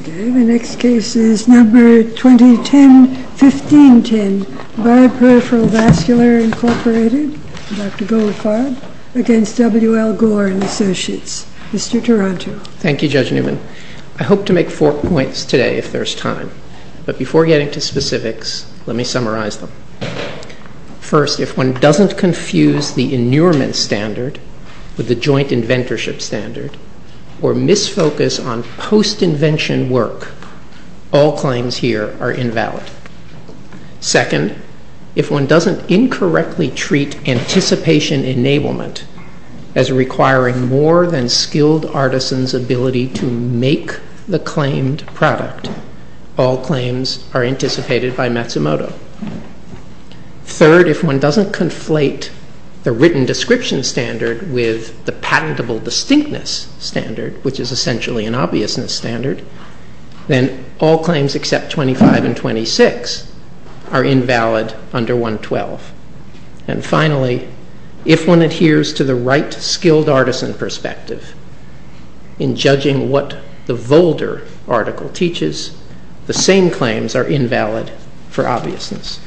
Okay, the next case is number 2010-1510, BARD PERIPHERAL VASCULAR, Inc., Dr. Goldfarb, against WL Gore and Associates. Mr. Taranto. Thank you, Judge Newman. I hope to make four points today, if there's time. But before getting to specifics, let me summarize them. First, if one doesn't confuse the inurement standard with the joint inventorship standard, or misfocus on post-invention work, all claims here are invalid. Second, if one doesn't incorrectly treat anticipation enablement as requiring more than skilled artisans' ability to make the claimed product, all claims are anticipated by Matsumoto. Third, if one doesn't conflate the written description standard with the patentable distinctness standard, which is essentially an obviousness standard, then all claims except 25 and 26 are invalid under 112. And finally, if one adheres to the right skilled artisan perspective in judging what the Volder article teaches, the same claims are invalid for obviousness.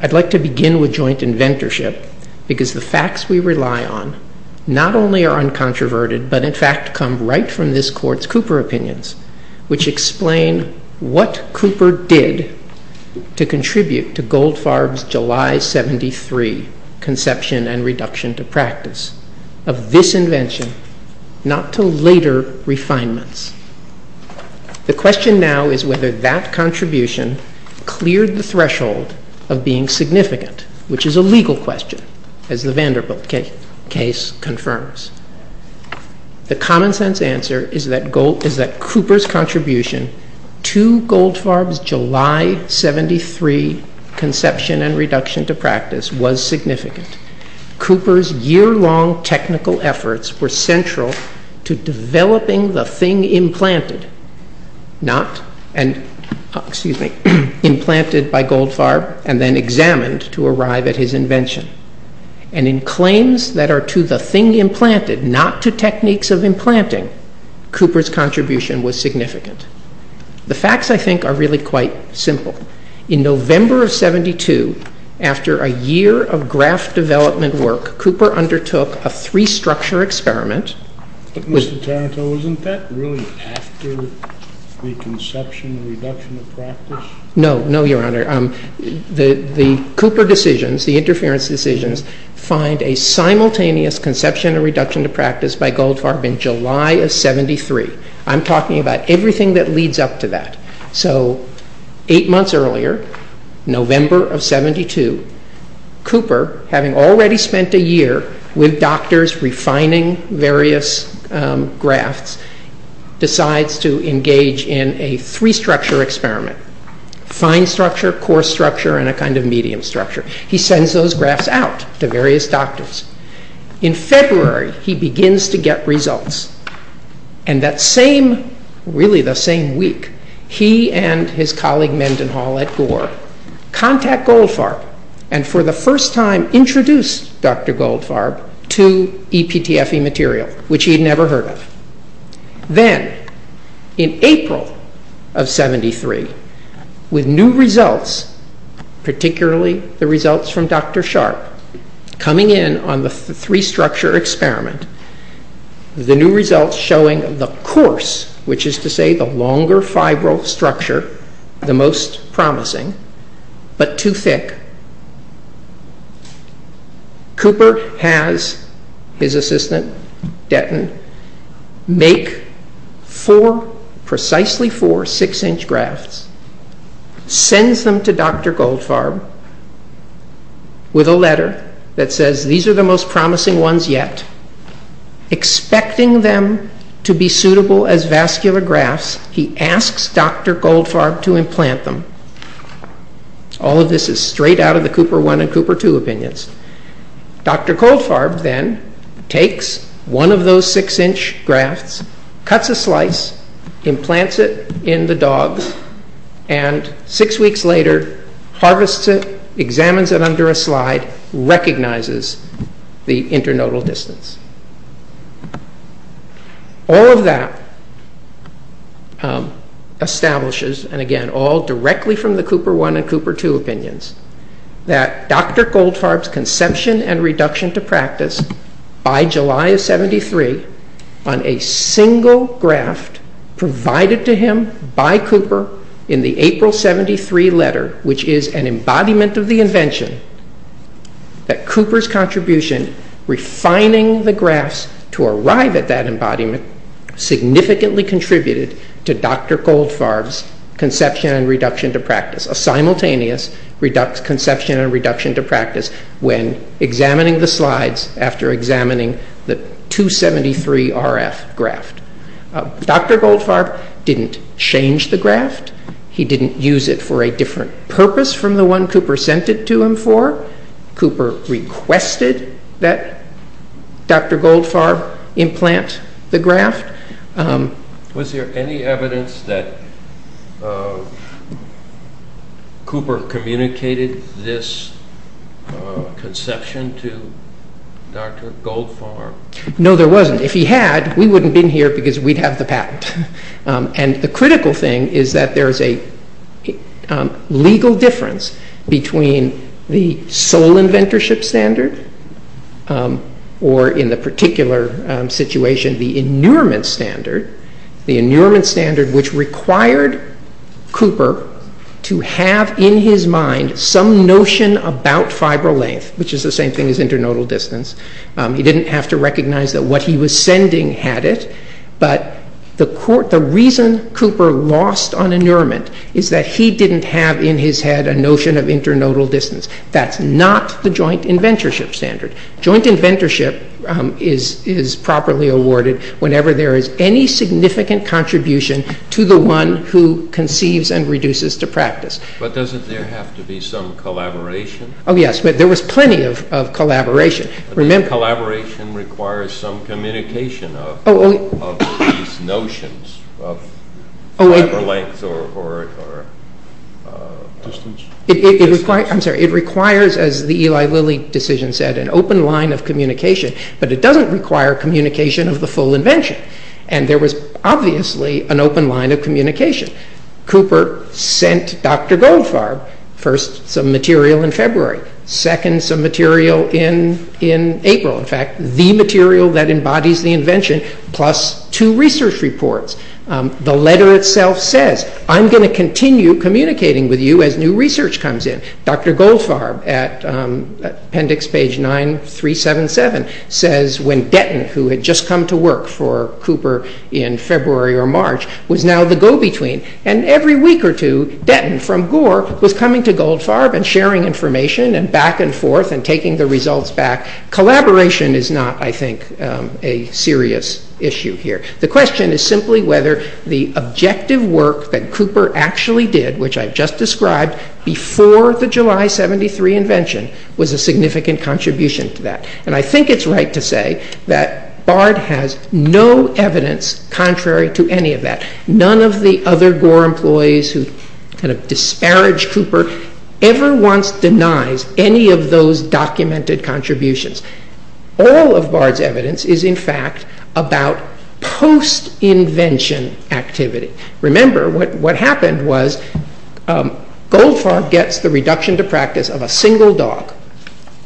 I'd like to begin with joint inventorship, because the facts we rely on not only are uncontroverted, but in fact come right from this Court's Cooper opinions, which explain what Cooper did to contribute to Goldfarb's July 73 conception and reduction to practice of this invention, not to later refinements. The question now is whether that contribution cleared the threshold of being significant, which is a legal question, as the Vanderbilt case confirms. The common-sense answer is that Cooper's contribution to Goldfarb's July 73 conception and reduction to practice was significant. Cooper's year-long technical efforts were central to developing the thing implanted by Goldfarb and then examined to arrive at his invention. And in claims that are to the thing implanted, not to techniques of implanting, Cooper's contribution was significant. The facts, I think, are really quite simple. In November of 72, after a year of graph development work, Cooper undertook a three-structure experiment. But, Mr. Taranto, isn't that really after the conception and reduction of practice? No, no, Your Honor. The Cooper decisions, the interference decisions, find a simultaneous conception and reduction to practice by Goldfarb in July of 73. I'm talking about everything that leads up to that. So, eight months earlier, November of 72, Cooper, having already spent a year with doctors refining various graphs, decides to engage in a three-structure experiment. Fine structure, coarse structure, and a kind of medium structure. He sends those graphs out to various doctors. In February, he begins to get results. And that same, really the same week, he and his colleague Mendenhall at Gore contact Goldfarb and for the first time introduce Dr. Goldfarb to EPTFE material, which he had never heard of. Then, in April of 73, with new results, particularly the results from Dr. Sharp, coming in on the three-structure experiment, the new results showing the coarse, which is to say the longer resistant, Dettin, make four, precisely four, six-inch graphs, sends them to Dr. Goldfarb with a letter that says, these are the most promising ones yet. Expecting them to be suitable as vascular graphs, he asks Dr. Goldfarb to implant them. All of this is straight out of the Cooper I and Cooper II opinions. Dr. Goldfarb then takes one of those six-inch graphs, cuts a slice, implants it in the dog, and six weeks later harvests it, examines it under a slide, recognizes the internodal distance. All of that establishes, and again all directly from the Cooper I and Cooper II opinions, that Dr. Goldfarb's conception and reduction to practice, by July of 73, on a single graph provided to him by Cooper in the April 73 letter, which is an embodiment of the invention, that Cooper's contribution refining the graphs to arrive at that embodiment significantly contributed to Dr. Goldfarb's conception and reduction to practice, a simultaneous conception and reduction to practice when examining the slides after examining the 273RF graph. Dr. Goldfarb didn't change the graph. He didn't use it for a different purpose from the one Cooper sent it to him for. Cooper requested that Dr. Goldfarb implant the graph. Was there any evidence that Cooper communicated this conception to Dr. Goldfarb? No, there wasn't. If he had, we wouldn't have been here because we'd have the patent. The critical thing is that there is a legal difference between the sole inventorship standard or, in the particular situation, the inurement standard, the inurement standard which required Cooper to have in his mind some notion about fibro length, which is the same thing as internodal distance. He didn't have to recognize that what he was sending had it, but the reason Cooper lost on inurement is that he didn't have in his head a notion of internodal distance. That's not the joint inventorship standard. Joint inventorship is properly awarded whenever there is any significant contribution to the one who conceives and reduces to practice. But doesn't there have to be some collaboration? Oh yes, there was plenty of collaboration. But that collaboration requires some communication of these notions of fibro length or distance. It requires, as the Eli Lilly decision said, an open line of communication, but it doesn't require communication of the full invention. There was obviously an open line of communication. Cooper sent Dr. Goldfarb, first, some material in February, second, some material in April. In fact, the material that embodies the invention plus two research reports. The letter itself says, I'm going to continue communicating with you as new research comes in. Dr. Goldfarb, at appendix page 9377, says when Denton, who had just come to work for Cooper in February or March, was now the go-between, and every and forth, and taking the results back. Collaboration is not, I think, a serious issue here. The question is simply whether the objective work that Cooper actually did, which I've just described, before the July 73 invention was a significant contribution to that. And I think it's right to say that Bard has no evidence contrary to any of that. None of the other Barge Cooper ever once denies any of those documented contributions. All of Bard's evidence is, in fact, about post-invention activity. Remember, what happened was Goldfarb gets the reduction to practice of a single dog.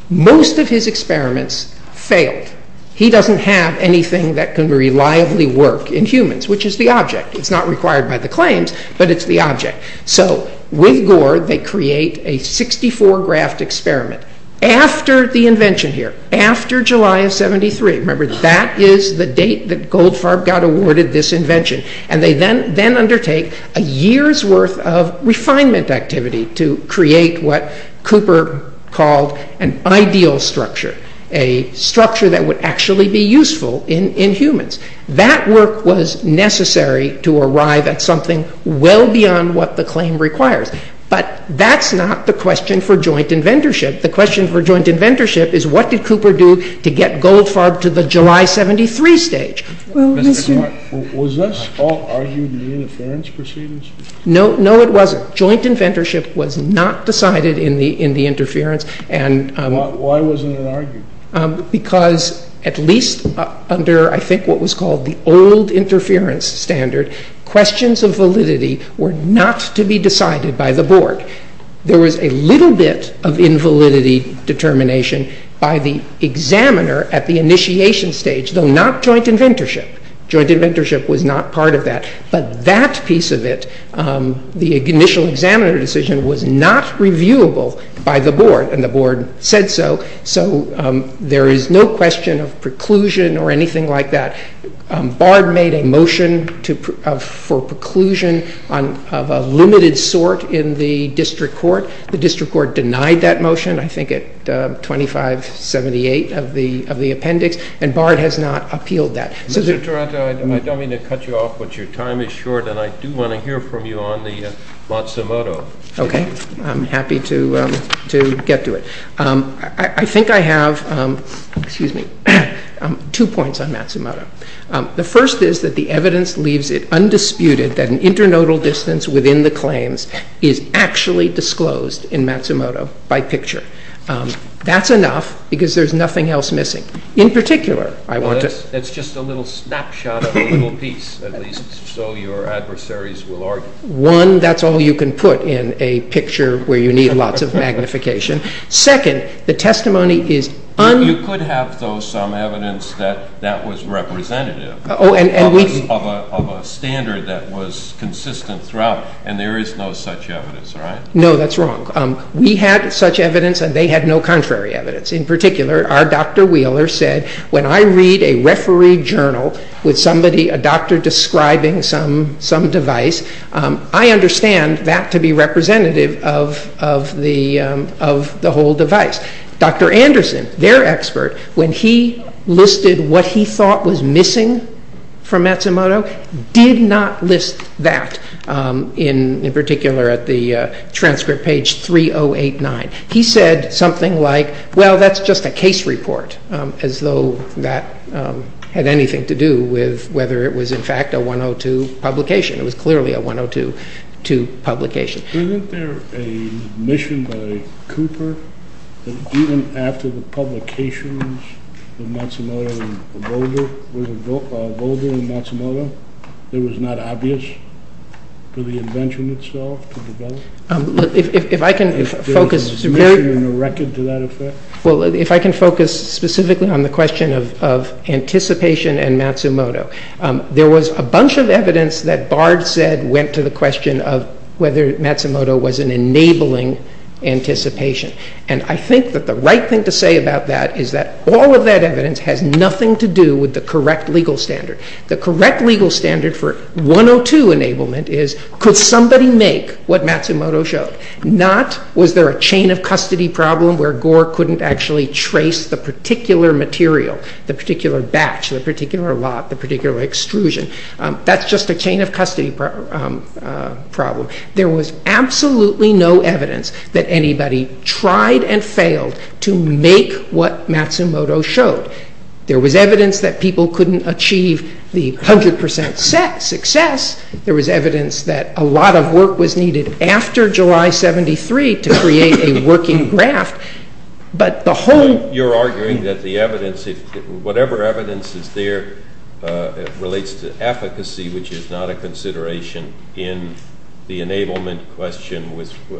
Most of his experiments failed. He doesn't have anything that can reliably work in humans, which is the object. It's not required by the claims, but it's the object. So, with Gore, they create a 64-graft experiment after the invention here, after July of 73. Remember, that is the date that Goldfarb got awarded this invention. And they then undertake a year's worth of refinement activity to create what Cooper called an ideal structure, a structure that would actually be useful in humans. That work was necessary to arrive at something well beyond what the claim requires. But that's not the question for joint inventorship. The question for joint inventorship is, what did Cooper do to get Goldfarb to the July 73 stage? Was this all argued in the interference proceedings? No. No, it wasn't. Joint inventorship was not decided in the interference. Why wasn't it argued? Because at least under, I think, what was called the old interference standard, questions of validity were not to be decided by the board. There was a little bit of invalidity determination by the examiner at the initiation stage, though not joint inventorship. Joint inventorship was not part of that. But that piece of it, the initial examiner decision, was not reviewable by the board, and the board said so. So there is no question of preclusion or anything like that. BARD made a motion for preclusion of a limited sort in the district court. The district court denied that motion, I think at 2578 of the appendix, and BARD has not appealed that. Mr. Taranto, I don't mean to cut you off, but your time is short, and I do want to hear from you on the Matsumoto. Okay. I'm happy to get to it. I think I have two points on Matsumoto. The first is that the evidence leaves it undisputed that an internodal distance within the claims is actually disclosed in Matsumoto by picture. That's enough, because there's nothing else missing. In particular, I want to- Yes. It's just a little snapshot of a little piece, at least so your adversaries will argue. One, that's all you can put in a picture where you need lots of magnification. Second, the testimony is- You could have, though, some evidence that that was representative of a standard that was consistent throughout, and there is no such evidence, right? No, that's wrong. We had such evidence, and they had no contrary evidence. In particular, our Dr. Wheeler said, when I read a referee journal with a doctor describing some device, I understand that to be representative of the whole device. Dr. Anderson, their expert, when he listed what he thought was missing from Matsumoto, did not list that, in particular at the transcript page 3089. He said something like, well, that's just a case report, as though that had anything to do with whether it was, in fact, a 102 publication. It was clearly a 102 publication. Isn't there a mission by Cooper that even after the publications of Matsumoto and Volger, it was not obvious for the invention itself to develop? If I can focus- Is there a mission or record to that effect? Well, if I can focus specifically on the question of anticipation and Matsumoto, there was a bunch of evidence that Bard said went to the question of whether Matsumoto was an enabling anticipation, and I think that the right thing to say about that is that all of that evidence has nothing to do with the correct legal standard. The correct legal standard for 102 enablement is, could somebody make what Matsumoto showed? Not was there a chain of custody problem where Gore couldn't actually trace the particular material, the particular batch, the particular lot, the particular extrusion. That's just a chain of custody problem. There was absolutely no evidence that anybody tried and failed to make what Matsumoto showed. There was evidence that people couldn't achieve the 100% success. There was evidence that a lot of work was needed after July 73 to create a working draft, but the whole- You're arguing that the evidence, whatever evidence is there, relates to efficacy, which is not a consideration in the enablement question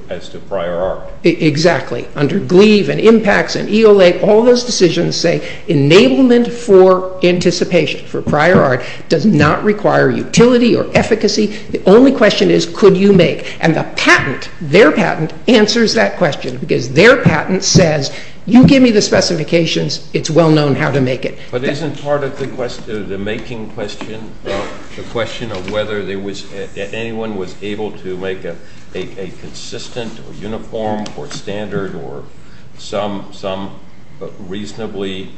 as to prior art. Exactly. Under GLEEVE and IMPACTS and EOA, all those decisions say enablement for anticipation, for prior art, does not require utility or efficacy. The only question is, could you make? And the patent, their patent, answers that question because their patent says, you give me the specifications, it's well known how to make it. But isn't part of the question, the making question, the question of whether anyone was able to make a consistent or uniform or standard or some reasonably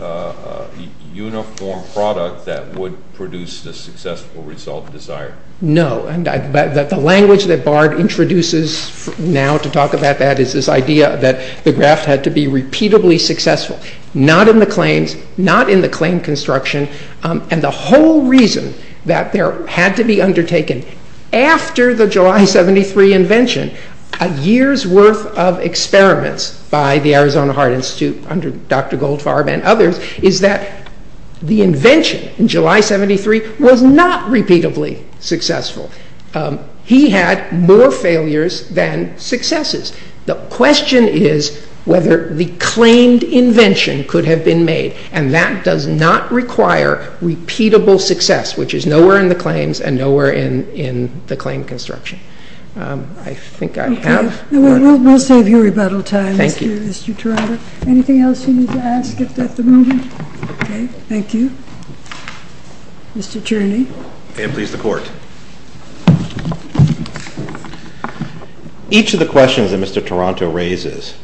uniform product that would produce the successful result desired? No. The language that Bard introduces now to talk about that is this idea that the draft had to be repeatedly successful. Not in the claims, not in the claim construction, and the whole reason that there had to be undertaken after the July 73 invention, a year's worth of experiments by the Arizona Art Institute under Dr. Goldfarb and others, is that the invention in July 73 was not repeatedly successful. He had more failures than successes. The question is whether the claimed invention could have been made, and that does not require repeatable success, which is nowhere in the claims and nowhere in the claim construction. I think I have. Okay. We'll save you rebuttal time, Mr. Toronto. Anything else you need to ask at the moment? Okay. Thank you. Mr. Tierney. And please, the Court. Each of the questions that Mr. Toronto raises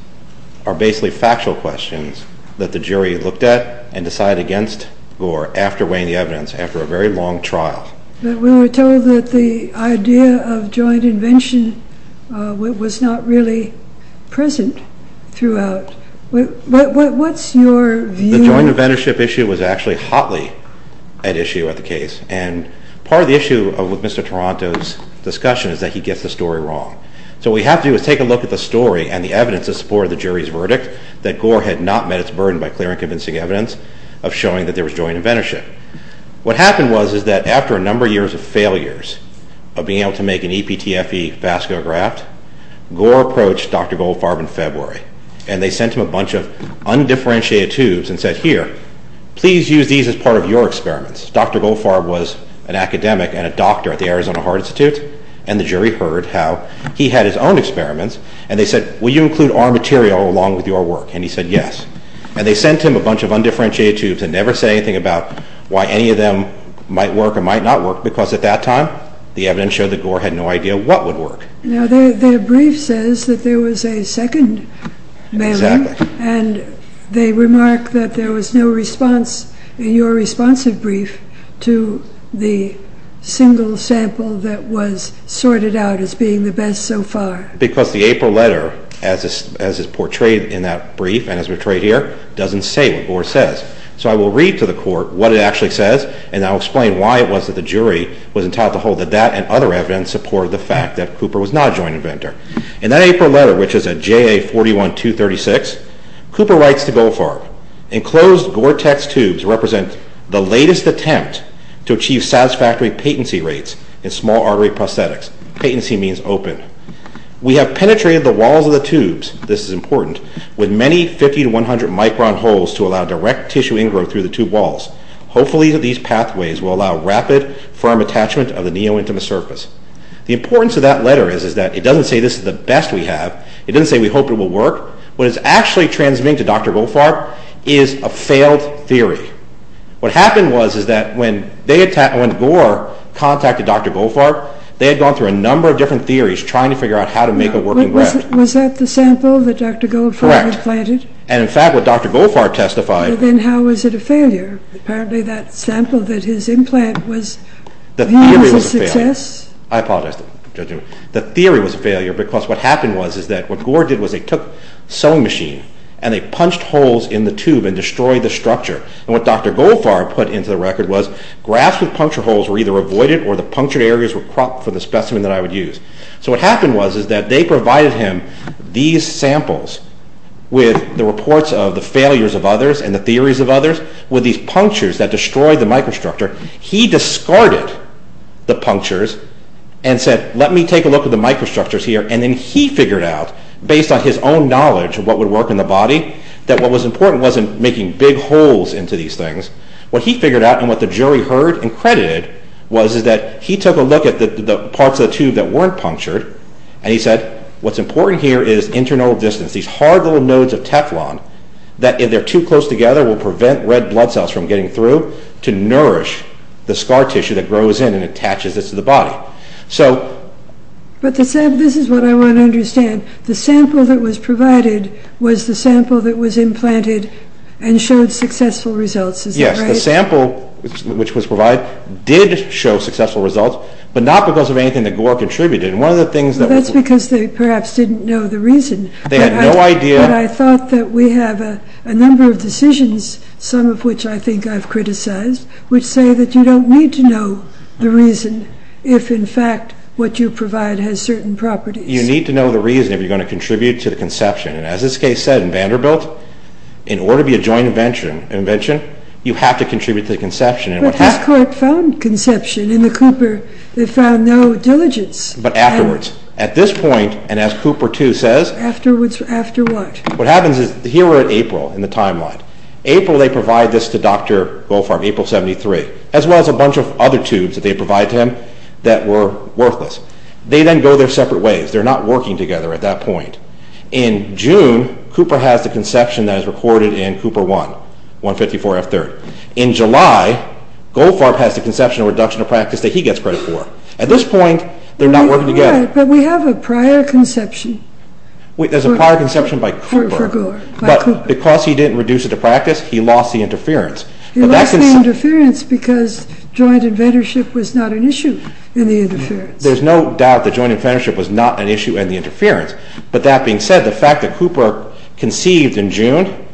are basically factual questions that the jury looked at and decided against Gore after weighing the evidence, after a very long trial. But we were told that the idea of joint invention was not really present throughout. What's your view? The joint inventorship issue was actually hotly at issue at the case, and part of the problem with Mr. Toronto's discussion is that he gets the story wrong. So what we have to do is take a look at the story and the evidence in support of the jury's verdict that Gore had not met its burden by clear and convincing evidence of showing that there was joint inventorship. What happened was is that after a number of years of failures of being able to make an EPTFE vasculograph, Gore approached Dr. Goldfarb in February, and they sent him a bunch of undifferentiated tubes and said, here, please use these as part of your experiments. Dr. Goldfarb was an academic and a doctor at the Arizona Heart Institute, and the jury heard how he had his own experiments, and they said, will you include our material along with your work? And he said, yes. And they sent him a bunch of undifferentiated tubes and never said anything about why any of them might work or might not work, because at that time, the evidence showed that Gore had no idea what would work. Now, their brief says that there was a second mailing, and they remark that there was no response in your responsive brief to the single sample that was sorted out as being the best so far. Because the April letter, as is portrayed in that brief and as portrayed here, doesn't say what Gore says. So I will read to the court what it actually says, and I'll explain why it was that the jury was entitled to hold that that and other evidence supported the fact that Cooper was not a joint inventor. In that April letter, which is at JA 41236, Cooper writes to Goldfarb, enclosed Gore-Tex tubes represent the latest attempt to achieve satisfactory patency rates in small artery prosthetics. Patency means open. We have penetrated the walls of the tubes, this is important, with many 50 to 100 micron holes to allow direct tissue ingrowth through the tube walls. Hopefully these pathways will allow rapid, firm attachment of the neo-intima surface. The importance of that letter is that it doesn't say this is the best we have. It doesn't say we hope it will work. What is actually transmitting to Dr. Goldfarb is a failed theory. What happened was is that when Gore contacted Dr. Goldfarb, they had gone through a number of different theories trying to figure out how to make a working graft. Was that the sample that Dr. Goldfarb had planted? Correct. And in fact, what Dr. Goldfarb testified... Then how was it a failure? Apparently that sample that his implant was... The theory was a failure. I apologize, Judge Newman. The theory was a failure because what happened was is that what Gore did was they took a sewing machine and they punched holes in the tube and destroyed the structure. And what Dr. Goldfarb put into the record was grafts with puncture holes were either avoided or the punctured areas were cropped for the specimen that I would use. So what happened was is that they provided him these samples with the reports of the failures of others and the theories of others with these punctures that destroyed the microstructure. He discarded the punctures and said, let me take a look at the microstructures here. And he figured out, based on his own knowledge of what would work in the body, that what was important wasn't making big holes into these things. What he figured out and what the jury heard and credited was is that he took a look at the parts of the tube that weren't punctured and he said, what's important here is internal distance, these hard little nodes of Teflon that if they're too close together will prevent red blood cells from getting through to nourish the scar tissue that grows in and attaches this to the body. So... But this is what I want to understand. The sample that was provided was the sample that was implanted and showed successful results, is that right? Yes. The sample which was provided did show successful results, but not because of anything that Gore contributed. And one of the things that... That's because they perhaps didn't know the reason. They had no idea... But I thought that we have a number of decisions, some of which I think I've criticized, which say that you don't need to know the reason if in fact what you provide has certain properties. You need to know the reason if you're going to contribute to the conception. And as this case said in Vanderbilt, in order to be a joint invention, you have to contribute to the conception. But his court found conception in the Cooper. They found no diligence. But afterwards, at this point, and as Cooper too says... Afterwards, after what? What happens is, here we're at April in the timeline. April they provide this to Dr. Goldfarb, April 73, as well as a bunch of other tubes that they provide to him that were worthless. They then go their separate ways. They're not working together at that point. In June, Cooper has the conception that is recorded in Cooper 1, 154 F3. In July, Goldfarb has the conception of reduction of practice that he gets credit for. At this point, they're not working together. Yeah, but we have a prior conception. There's a prior conception by Cooper. For Gore, by Cooper. Because he didn't reduce it to practice, he lost the interference. He lost the interference because joint inventorship was not an issue in the interference. There's no doubt that joint inventorship was not an issue in the interference. But that being said, the fact that Cooper conceived in June,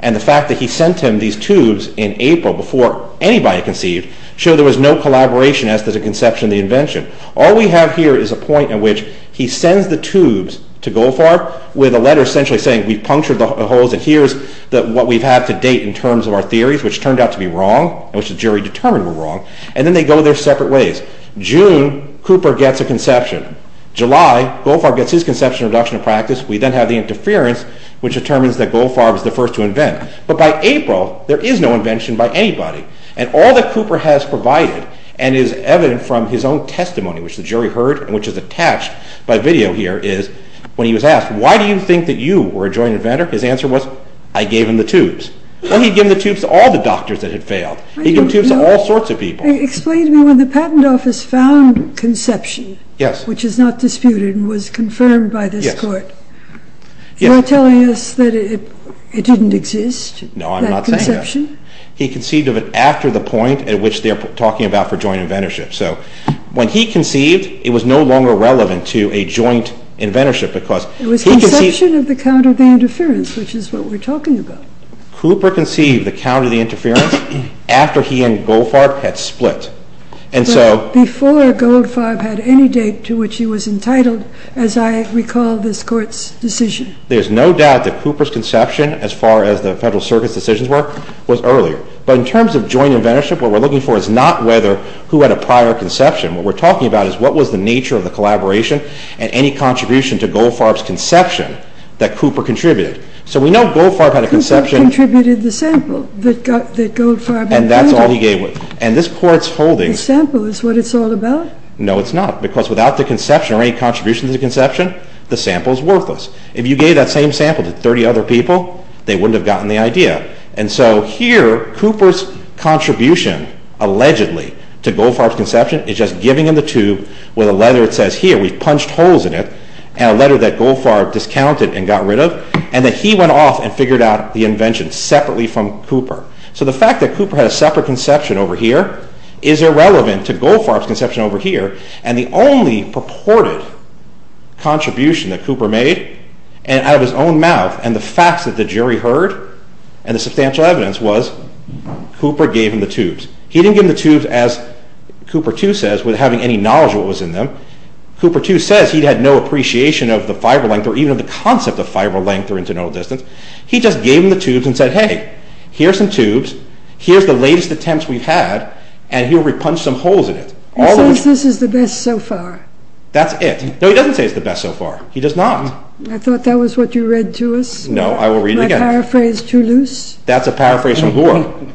and the fact that he sent him these tubes in April before anybody conceived, show there was no collaboration as to the conception of the invention. All we have here is a point at which he sends the tubes to Goldfarb, with a letter essentially saying, we've punctured the holes and here's what we've had to date in terms of our theories, which turned out to be wrong, which the jury determined were wrong. And then they go their separate ways. June, Cooper gets a conception. July, Goldfarb gets his conception of reduction of practice. We then have the interference, which determines that Goldfarb is the first to invent. But by April, there is no invention by anybody. And all that Cooper has provided, and is evident from his own testimony, which the jury heard, and which is attached by video here, is when he was asked, why do you think that you were a joint inventor? His answer was, I gave him the tubes. Well, he'd give the tubes to all the doctors that had failed. He'd give tubes to all sorts of people. Explain to me, when the patent office found conception, which is not disputed and was confirmed by this court, you're telling us that it didn't exist? No, I'm not saying that. He conceived of it after the point at which they're talking about for joint inventorship. So when he conceived, it was no longer relevant to a joint inventorship because he conceived of it after the point at which they're talking about. Cooper conceived the counter to the interference after he and Goldfarb had split. Before Goldfarb had any date to which he was entitled, as I recall this court's decision. There's no doubt that Cooper's conception, as far as the Federal Circuit's decisions were, was earlier. But in terms of joint inventorship, what we're looking for is not whether who had a prior conception. What we're talking about is, what was the nature of the collaboration and any contribution to Goldfarb's conception that Cooper contributed? So we know Goldfarb had a conception. Cooper contributed the sample that Goldfarb had handed. And that's all he gave. And this court's holding. The sample is what it's all about? No, it's not. Because without the conception or any contribution to the conception, the sample is worthless. If you gave that same sample to 30 other people, they wouldn't have gotten the idea. And so here, Cooper's contribution, allegedly, to Goldfarb's conception is just giving him the tube with a letter that says, here, we've punched holes in it, and a letter that Goldfarb discounted and got rid of. And that he went off and figured out the invention separately from Cooper. So the fact that Cooper had a separate conception over here is irrelevant to Goldfarb's conception over here. And the only purported contribution that Cooper made out of his own mouth and the facts that the jury heard and the substantial evidence was Cooper gave him the tubes. He didn't give him the tubes, as Cooper, too, without having any knowledge of what was in them. Cooper, too, says he had no appreciation of the fiber length or even of the concept of fiber length or internodal distance. He just gave him the tubes and said, hey, here's some tubes. Here's the latest attempts we've had. And he'll repunch some holes in it. He says this is the best so far. That's it. No, he doesn't say it's the best so far. He does not. I thought that was what you read to us. No, I will read it again. My paraphrase too loose? That's a paraphrase from Gore.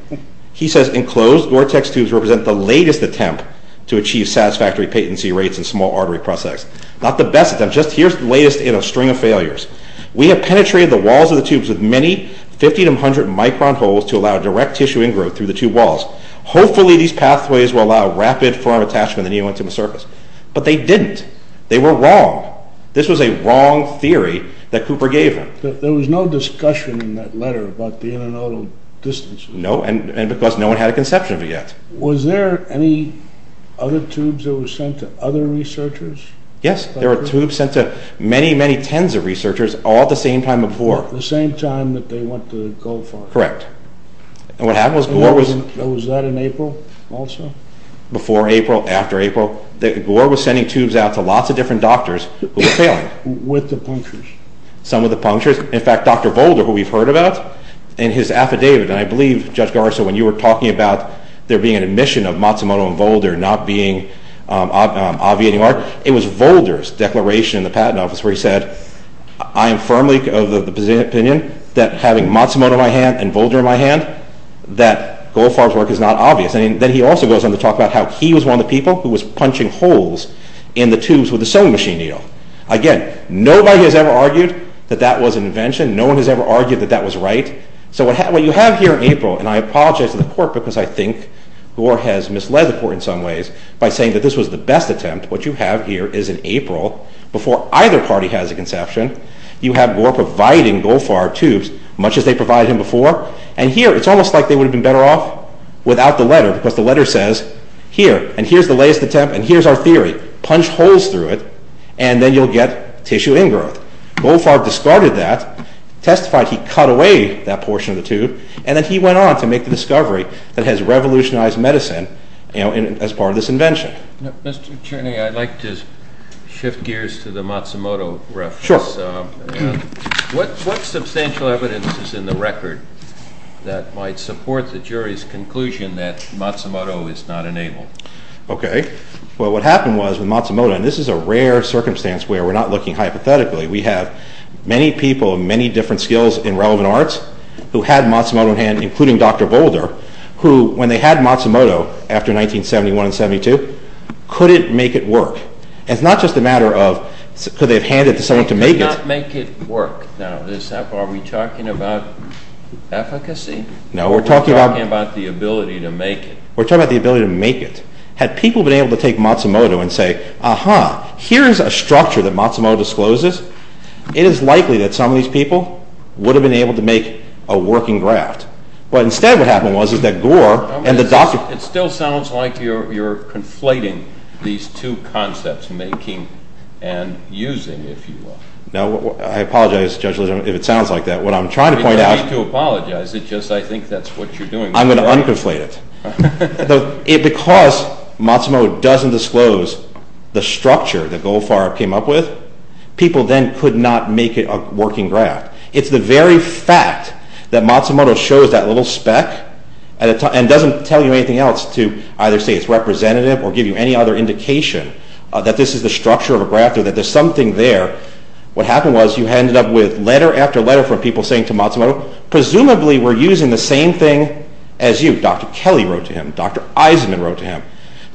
He says enclosed vortex tubes represent the latest attempt to achieve satisfactory patency rates in small artery processes. Not the best attempt, just here's the latest in a string of failures. We have penetrated the walls of the tubes with many 50 to 100 micron holes to allow direct tissue ingrowth through the tube walls. Hopefully, these pathways will allow rapid forearm attachment to the neo-intimal surface. But they didn't. They were wrong. This was a wrong theory that Cooper gave him. There was no discussion in that letter about the internodal distance. No, and because no one had a conception of it yet. Was there any other tubes that were sent to other researchers? Yes, there were tubes sent to many, many tens of researchers all at the same time of Gore. The same time that they went to Goldfarb? Correct. And what happened was Gore was... Was that in April also? Before April, after April. Gore was sending tubes out to lots of different doctors who were failing. With the punctures? Some of the punctures. In fact, Dr. Volder, who we've heard about in his affidavit, and I believe, Judge Garza, when you were talking about there being an admission of Matsumoto and Volder not being obviating work, it was Volder's declaration in the patent office where he said, I am firmly of the opinion that having Matsumoto in my hand and Volder in my hand, that Goldfarb's work is not obvious. And then he also goes on to talk about how he was one of the people who was punching holes in the tubes with a sewing machine needle. Again, nobody has ever argued that that was an invention. No one has ever argued that that was right. So what you have here in April, and I apologize to the court because I think Gore has misled the court in some ways by saying that this was the best attempt. What you have here is in April, before either party has a conception, you have Gore providing Goldfarb tubes, much as they provided him before. And here, it's almost like they would've been better off without the letter, because the letter says, here, and here's the latest attempt, and here's our theory. Punch holes through it, and then you'll get tissue ingrowth. Goldfarb discarded that, testified he cut away that portion of the tube, and then he went on to make the discovery that has revolutionized medicine, you know, as part of this invention. Mr. Attorney, I'd like to shift gears to the Matsumoto reference. Sure. What substantial evidence is in the record that might support the jury's conclusion that Matsumoto is not enabled? Okay. Well, what happened was, with Matsumoto, and this is a rare circumstance where we're not looking hypothetically, we have many people of many different skills in relevant arts who had Matsumoto in hand, including Dr. Boulder, who when they had Matsumoto after 1971 and 72, could it make it work? And it's not just a matter of could they have handed it to someone to make it. Could it not make it work? Now, are we talking about efficacy? No, we're talking about... We're talking about the ability to make it. We're talking about the ability to make it. Had people been able to take Matsumoto and say, aha, here's a structure that Matsumoto discloses, it is likely that some of these people would have been able to make a working graft. But instead what happened was that Gore and the doctor... It still sounds like you're conflating these two concepts, making and using, if you will. No, I apologize, Judge, if it sounds like that. What I'm trying to point out... You don't need to apologize. It's just I think that's what you're doing. I'm going to un-conflate it. Because Matsumoto doesn't disclose the structure that Goldfarb came up with, people then could not make it a working graft. It's the very fact that Matsumoto shows that little speck and doesn't tell you anything else to either say it's representative or give you any other indication that this is the structure of a graft or that there's something there. What happened was you ended up with letter after letter from people saying to Matsumoto, Presumably we're using the same thing as you. Dr. Kelly wrote to him. Dr. Eisenman wrote to him.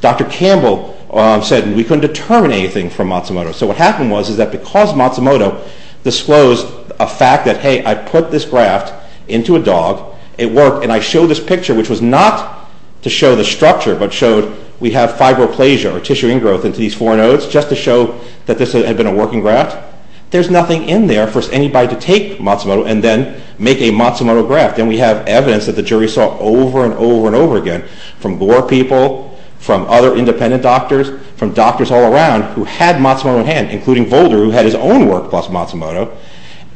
Dr. Campbell said we couldn't determine anything from Matsumoto. So what happened was that because Matsumoto disclosed a fact that, hey, I put this graft into a dog, it worked, and I showed this picture which was not to show the structure but showed we have fibroplasia or tissue ingrowth into these four nodes just to show that this had been a working graft. There's nothing in there for anybody to take Matsumoto and then make a Matsumoto graft. And we have evidence that the jury saw over and over and over again from Gore people, from other independent doctors, from doctors all around who had Matsumoto in hand, including Volder who had his own work plus Matsumoto.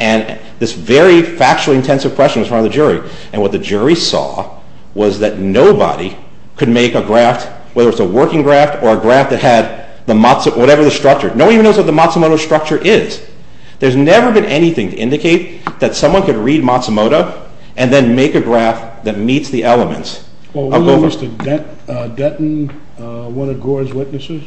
And this very factually intensive question was from the jury. And what the jury saw was that nobody could make a graft, whether it's a working graft or a graft that had whatever the structure. No one even knows what the Matsumoto structure is. There's never been anything to indicate that someone could read Matsumoto and then make a graft that meets the elements. Well, when Mr. Denton, one of Gore's witnesses,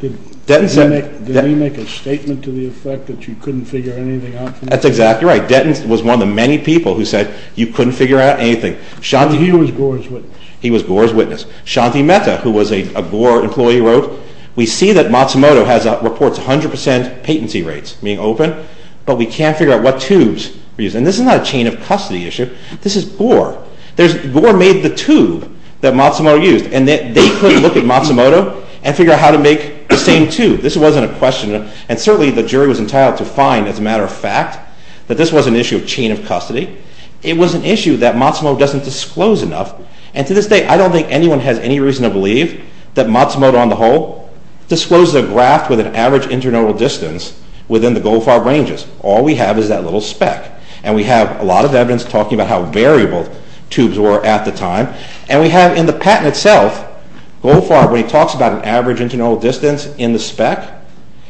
did he make a statement to the effect that you couldn't figure anything out? That's exactly right. Denton was one of the many people who said you couldn't figure out anything. He was Gore's witness. He was Gore's witness. Shanti Mehta, who was a Gore employee, wrote, We see that Matsumoto reports 100% patency rates, meaning open, but we can't figure out what tubes were used. And this is not a chain of custody issue. This is Gore. Gore made the tube that Matsumoto used and they couldn't look at Matsumoto and figure out how to make the same tube. This wasn't a question. And certainly the jury was entitled to find, as a matter of fact, that this was an issue of chain of custody. It was an issue that Matsumoto doesn't disclose enough. And to this day, I don't think anyone has any reason to believe that Matsumoto, on the whole, discloses a graft with an average internodal distance within the Goldfarb ranges. All we have is that little spec. And we have a lot of evidence talking about how variable tubes were at the time. And we have in the patent itself, Goldfarb, when he talks about an average internodal distance in the spec,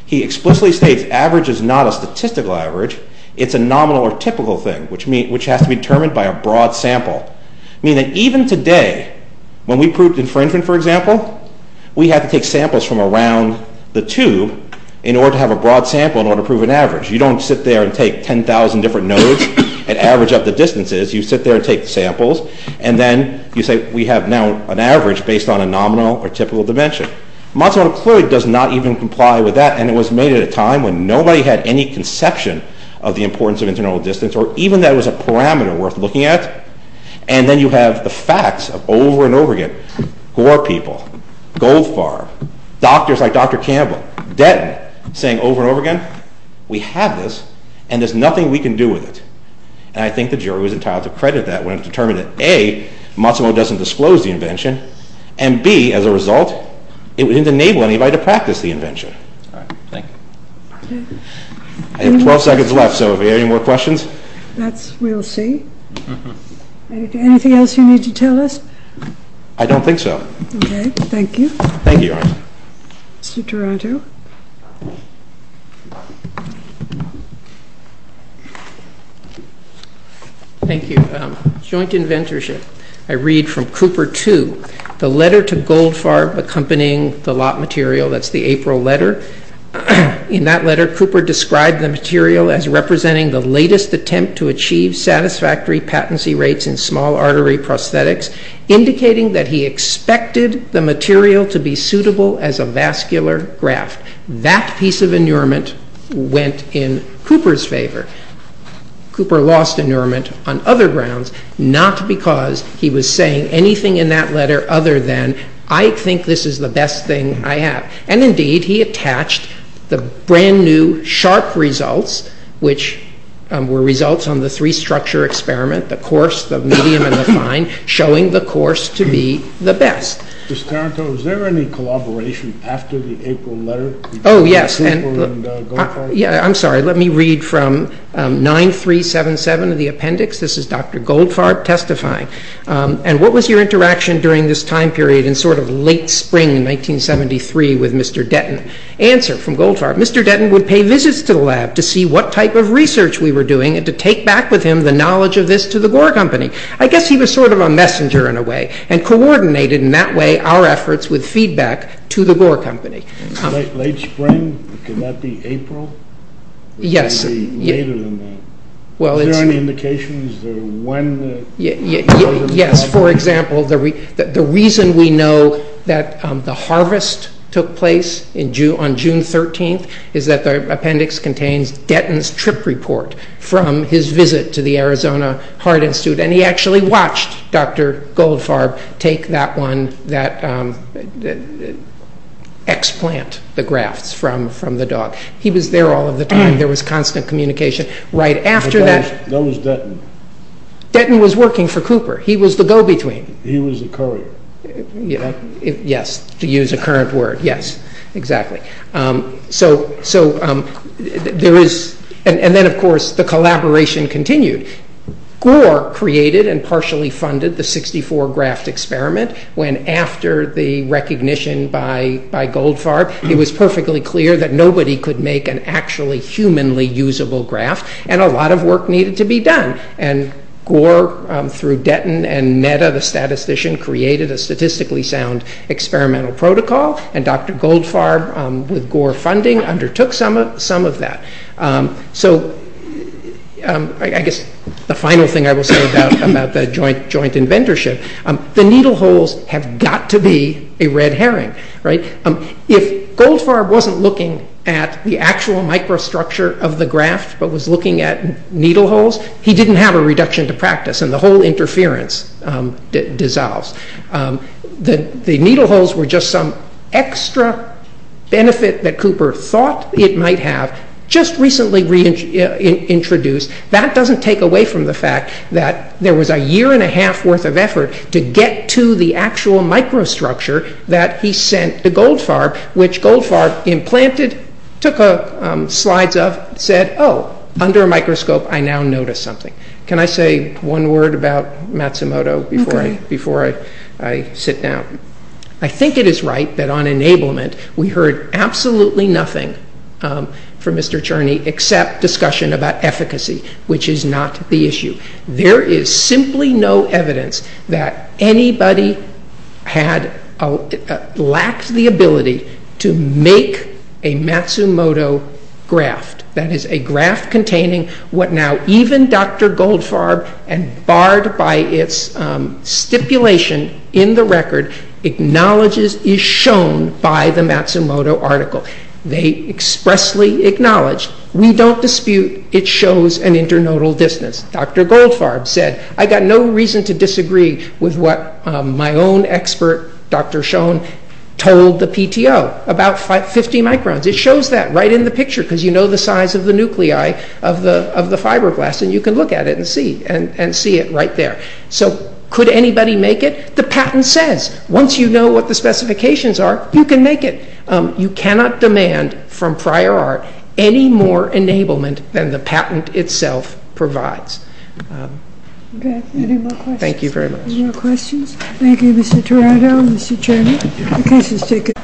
he explicitly states average is not a statistical average. It's a nominal or typical thing, which has to be determined by a broad sample. Meaning that even today, when we proved infringement, for example, we had to take samples from around the tube in order to have a broad sample in order to prove an average. You don't sit there and take 10,000 different nodes and average up the distances. You sit there and take the samples. And then you say, we have now an average based on a nominal or typical dimension. Matsumoto clearly does not even comply with that. And it was made at a time when nobody had any conception of the importance of internodal distance or even that it was a parameter worth looking at. And then you have the facts of over and over again. Gore people, Goldfarb, doctors like Dr. Campbell, Denton, saying over and over again, we have this and there's nothing we can do with it. And I think the jury was entitled to credit that when it was determined that A, Matsumoto doesn't disclose the invention, and B, as a result, it didn't enable anybody to practice the invention. Thank you. I have 12 seconds left, so are there any more questions? We'll see. Anything else you need to tell us? I don't think so. Thank you. Mr. Toronto. Thank you. Joint inventorship. I read from Cooper 2, the letter to Goldfarb accompanying the lot material, that's the April letter. In that letter, Cooper described the material as representing the latest attempt to achieve satisfactory patency rates in small artery prosthetics, indicating that he expected the material to be suitable as a vascular graft. That piece of inurement went in Cooper's favor. Cooper lost inurement on other grounds, not because he was saying anything in that letter other than, I think this is the best thing I have. And indeed, he attached the brand new, sharp results, which were results on the three-structure experiment, the coarse, the medium, and the fine, showing the coarse to be the best. Mr. Toronto, is there any collaboration after the April letter? Oh, yes. I'm sorry, let me read from 9377 of the appendix. This is Dr. Goldfarb testifying. And what was your interaction during this time period, in sort of late spring 1973 with Mr. Denton? Answer from Goldfarb, Mr. Denton would pay visits to the lab to see what type of research we were doing and to take back with him the knowledge of this to the Gore Company. I guess he was sort of a messenger in a way and coordinated in that way our efforts with feedback to the Gore Company. Late spring? Could that be April? Yes. Maybe later than that. Is there any indication? Is there a when? Yes. For example, the reason we know that the harvest took place on June 13th is that the appendix contains Denton's trip report from his visit to the Arizona Heart Institute. And he actually watched Dr. Goldfarb take that one, that explant, the grafts from the dog. He was there all of the time. There was constant communication. Right after that... That was Denton. Denton was working for Cooper. He was the go-between. He was the courier. Yes. To use a current word. Yes. Exactly. So there is... And then of course the collaboration continued. Gore created and partially funded the 64 graft experiment when after the recognition by Goldfarb it was perfectly clear that nobody could make an actually humanly usable graft and a lot of work needed to be done. And Gore through Denton and Netta, the statistician, created a statistically sound experimental protocol and Dr. Goldfarb with Gore funding undertook some of that. So I guess the final thing I will say about the joint inventorship, the needle holes have got to be a red herring. If Goldfarb wasn't looking at the actual microstructure of the graft but was looking at needle holes, he didn't have a reduction to practice and the whole interference dissolves. The needle holes were just some extra benefit that Cooper thought it might have just recently reintroduced. That doesn't take away from the fact that there was a year and a half worth of effort to get to the actual microstructure that he sent to Goldfarb which Goldfarb implanted, took slides of, said, oh, under a microscope I now notice something. Can I say one word about Matsumoto before I sit down? I think it is right that on enablement we heard absolutely nothing from Mr. Cherney except discussion about efficacy which is not the issue. There is simply no evidence that anybody had that lacked the ability to make a Matsumoto graft. That is a graft containing what now even Dr. Goldfarb and barred by its stipulation in the record acknowledges is shown by the Matsumoto article. They expressly acknowledge, we don't dispute it shows an internodal distance. I agree with what my own expert, Dr. Schoen, told the PTO about 50 microns. It shows that right in the picture because you know the size of the nuclei of the fibroblasts and you can look at it and see it right there. So could anybody make it? The patent says once you know what the specifications are you can make it. You cannot demand from prior art any more enablement than the patent itself provides. Any more questions? Thank you very much. Any more questions? Thank you Mr. Toronto and Mr. Cherney. The case is taken.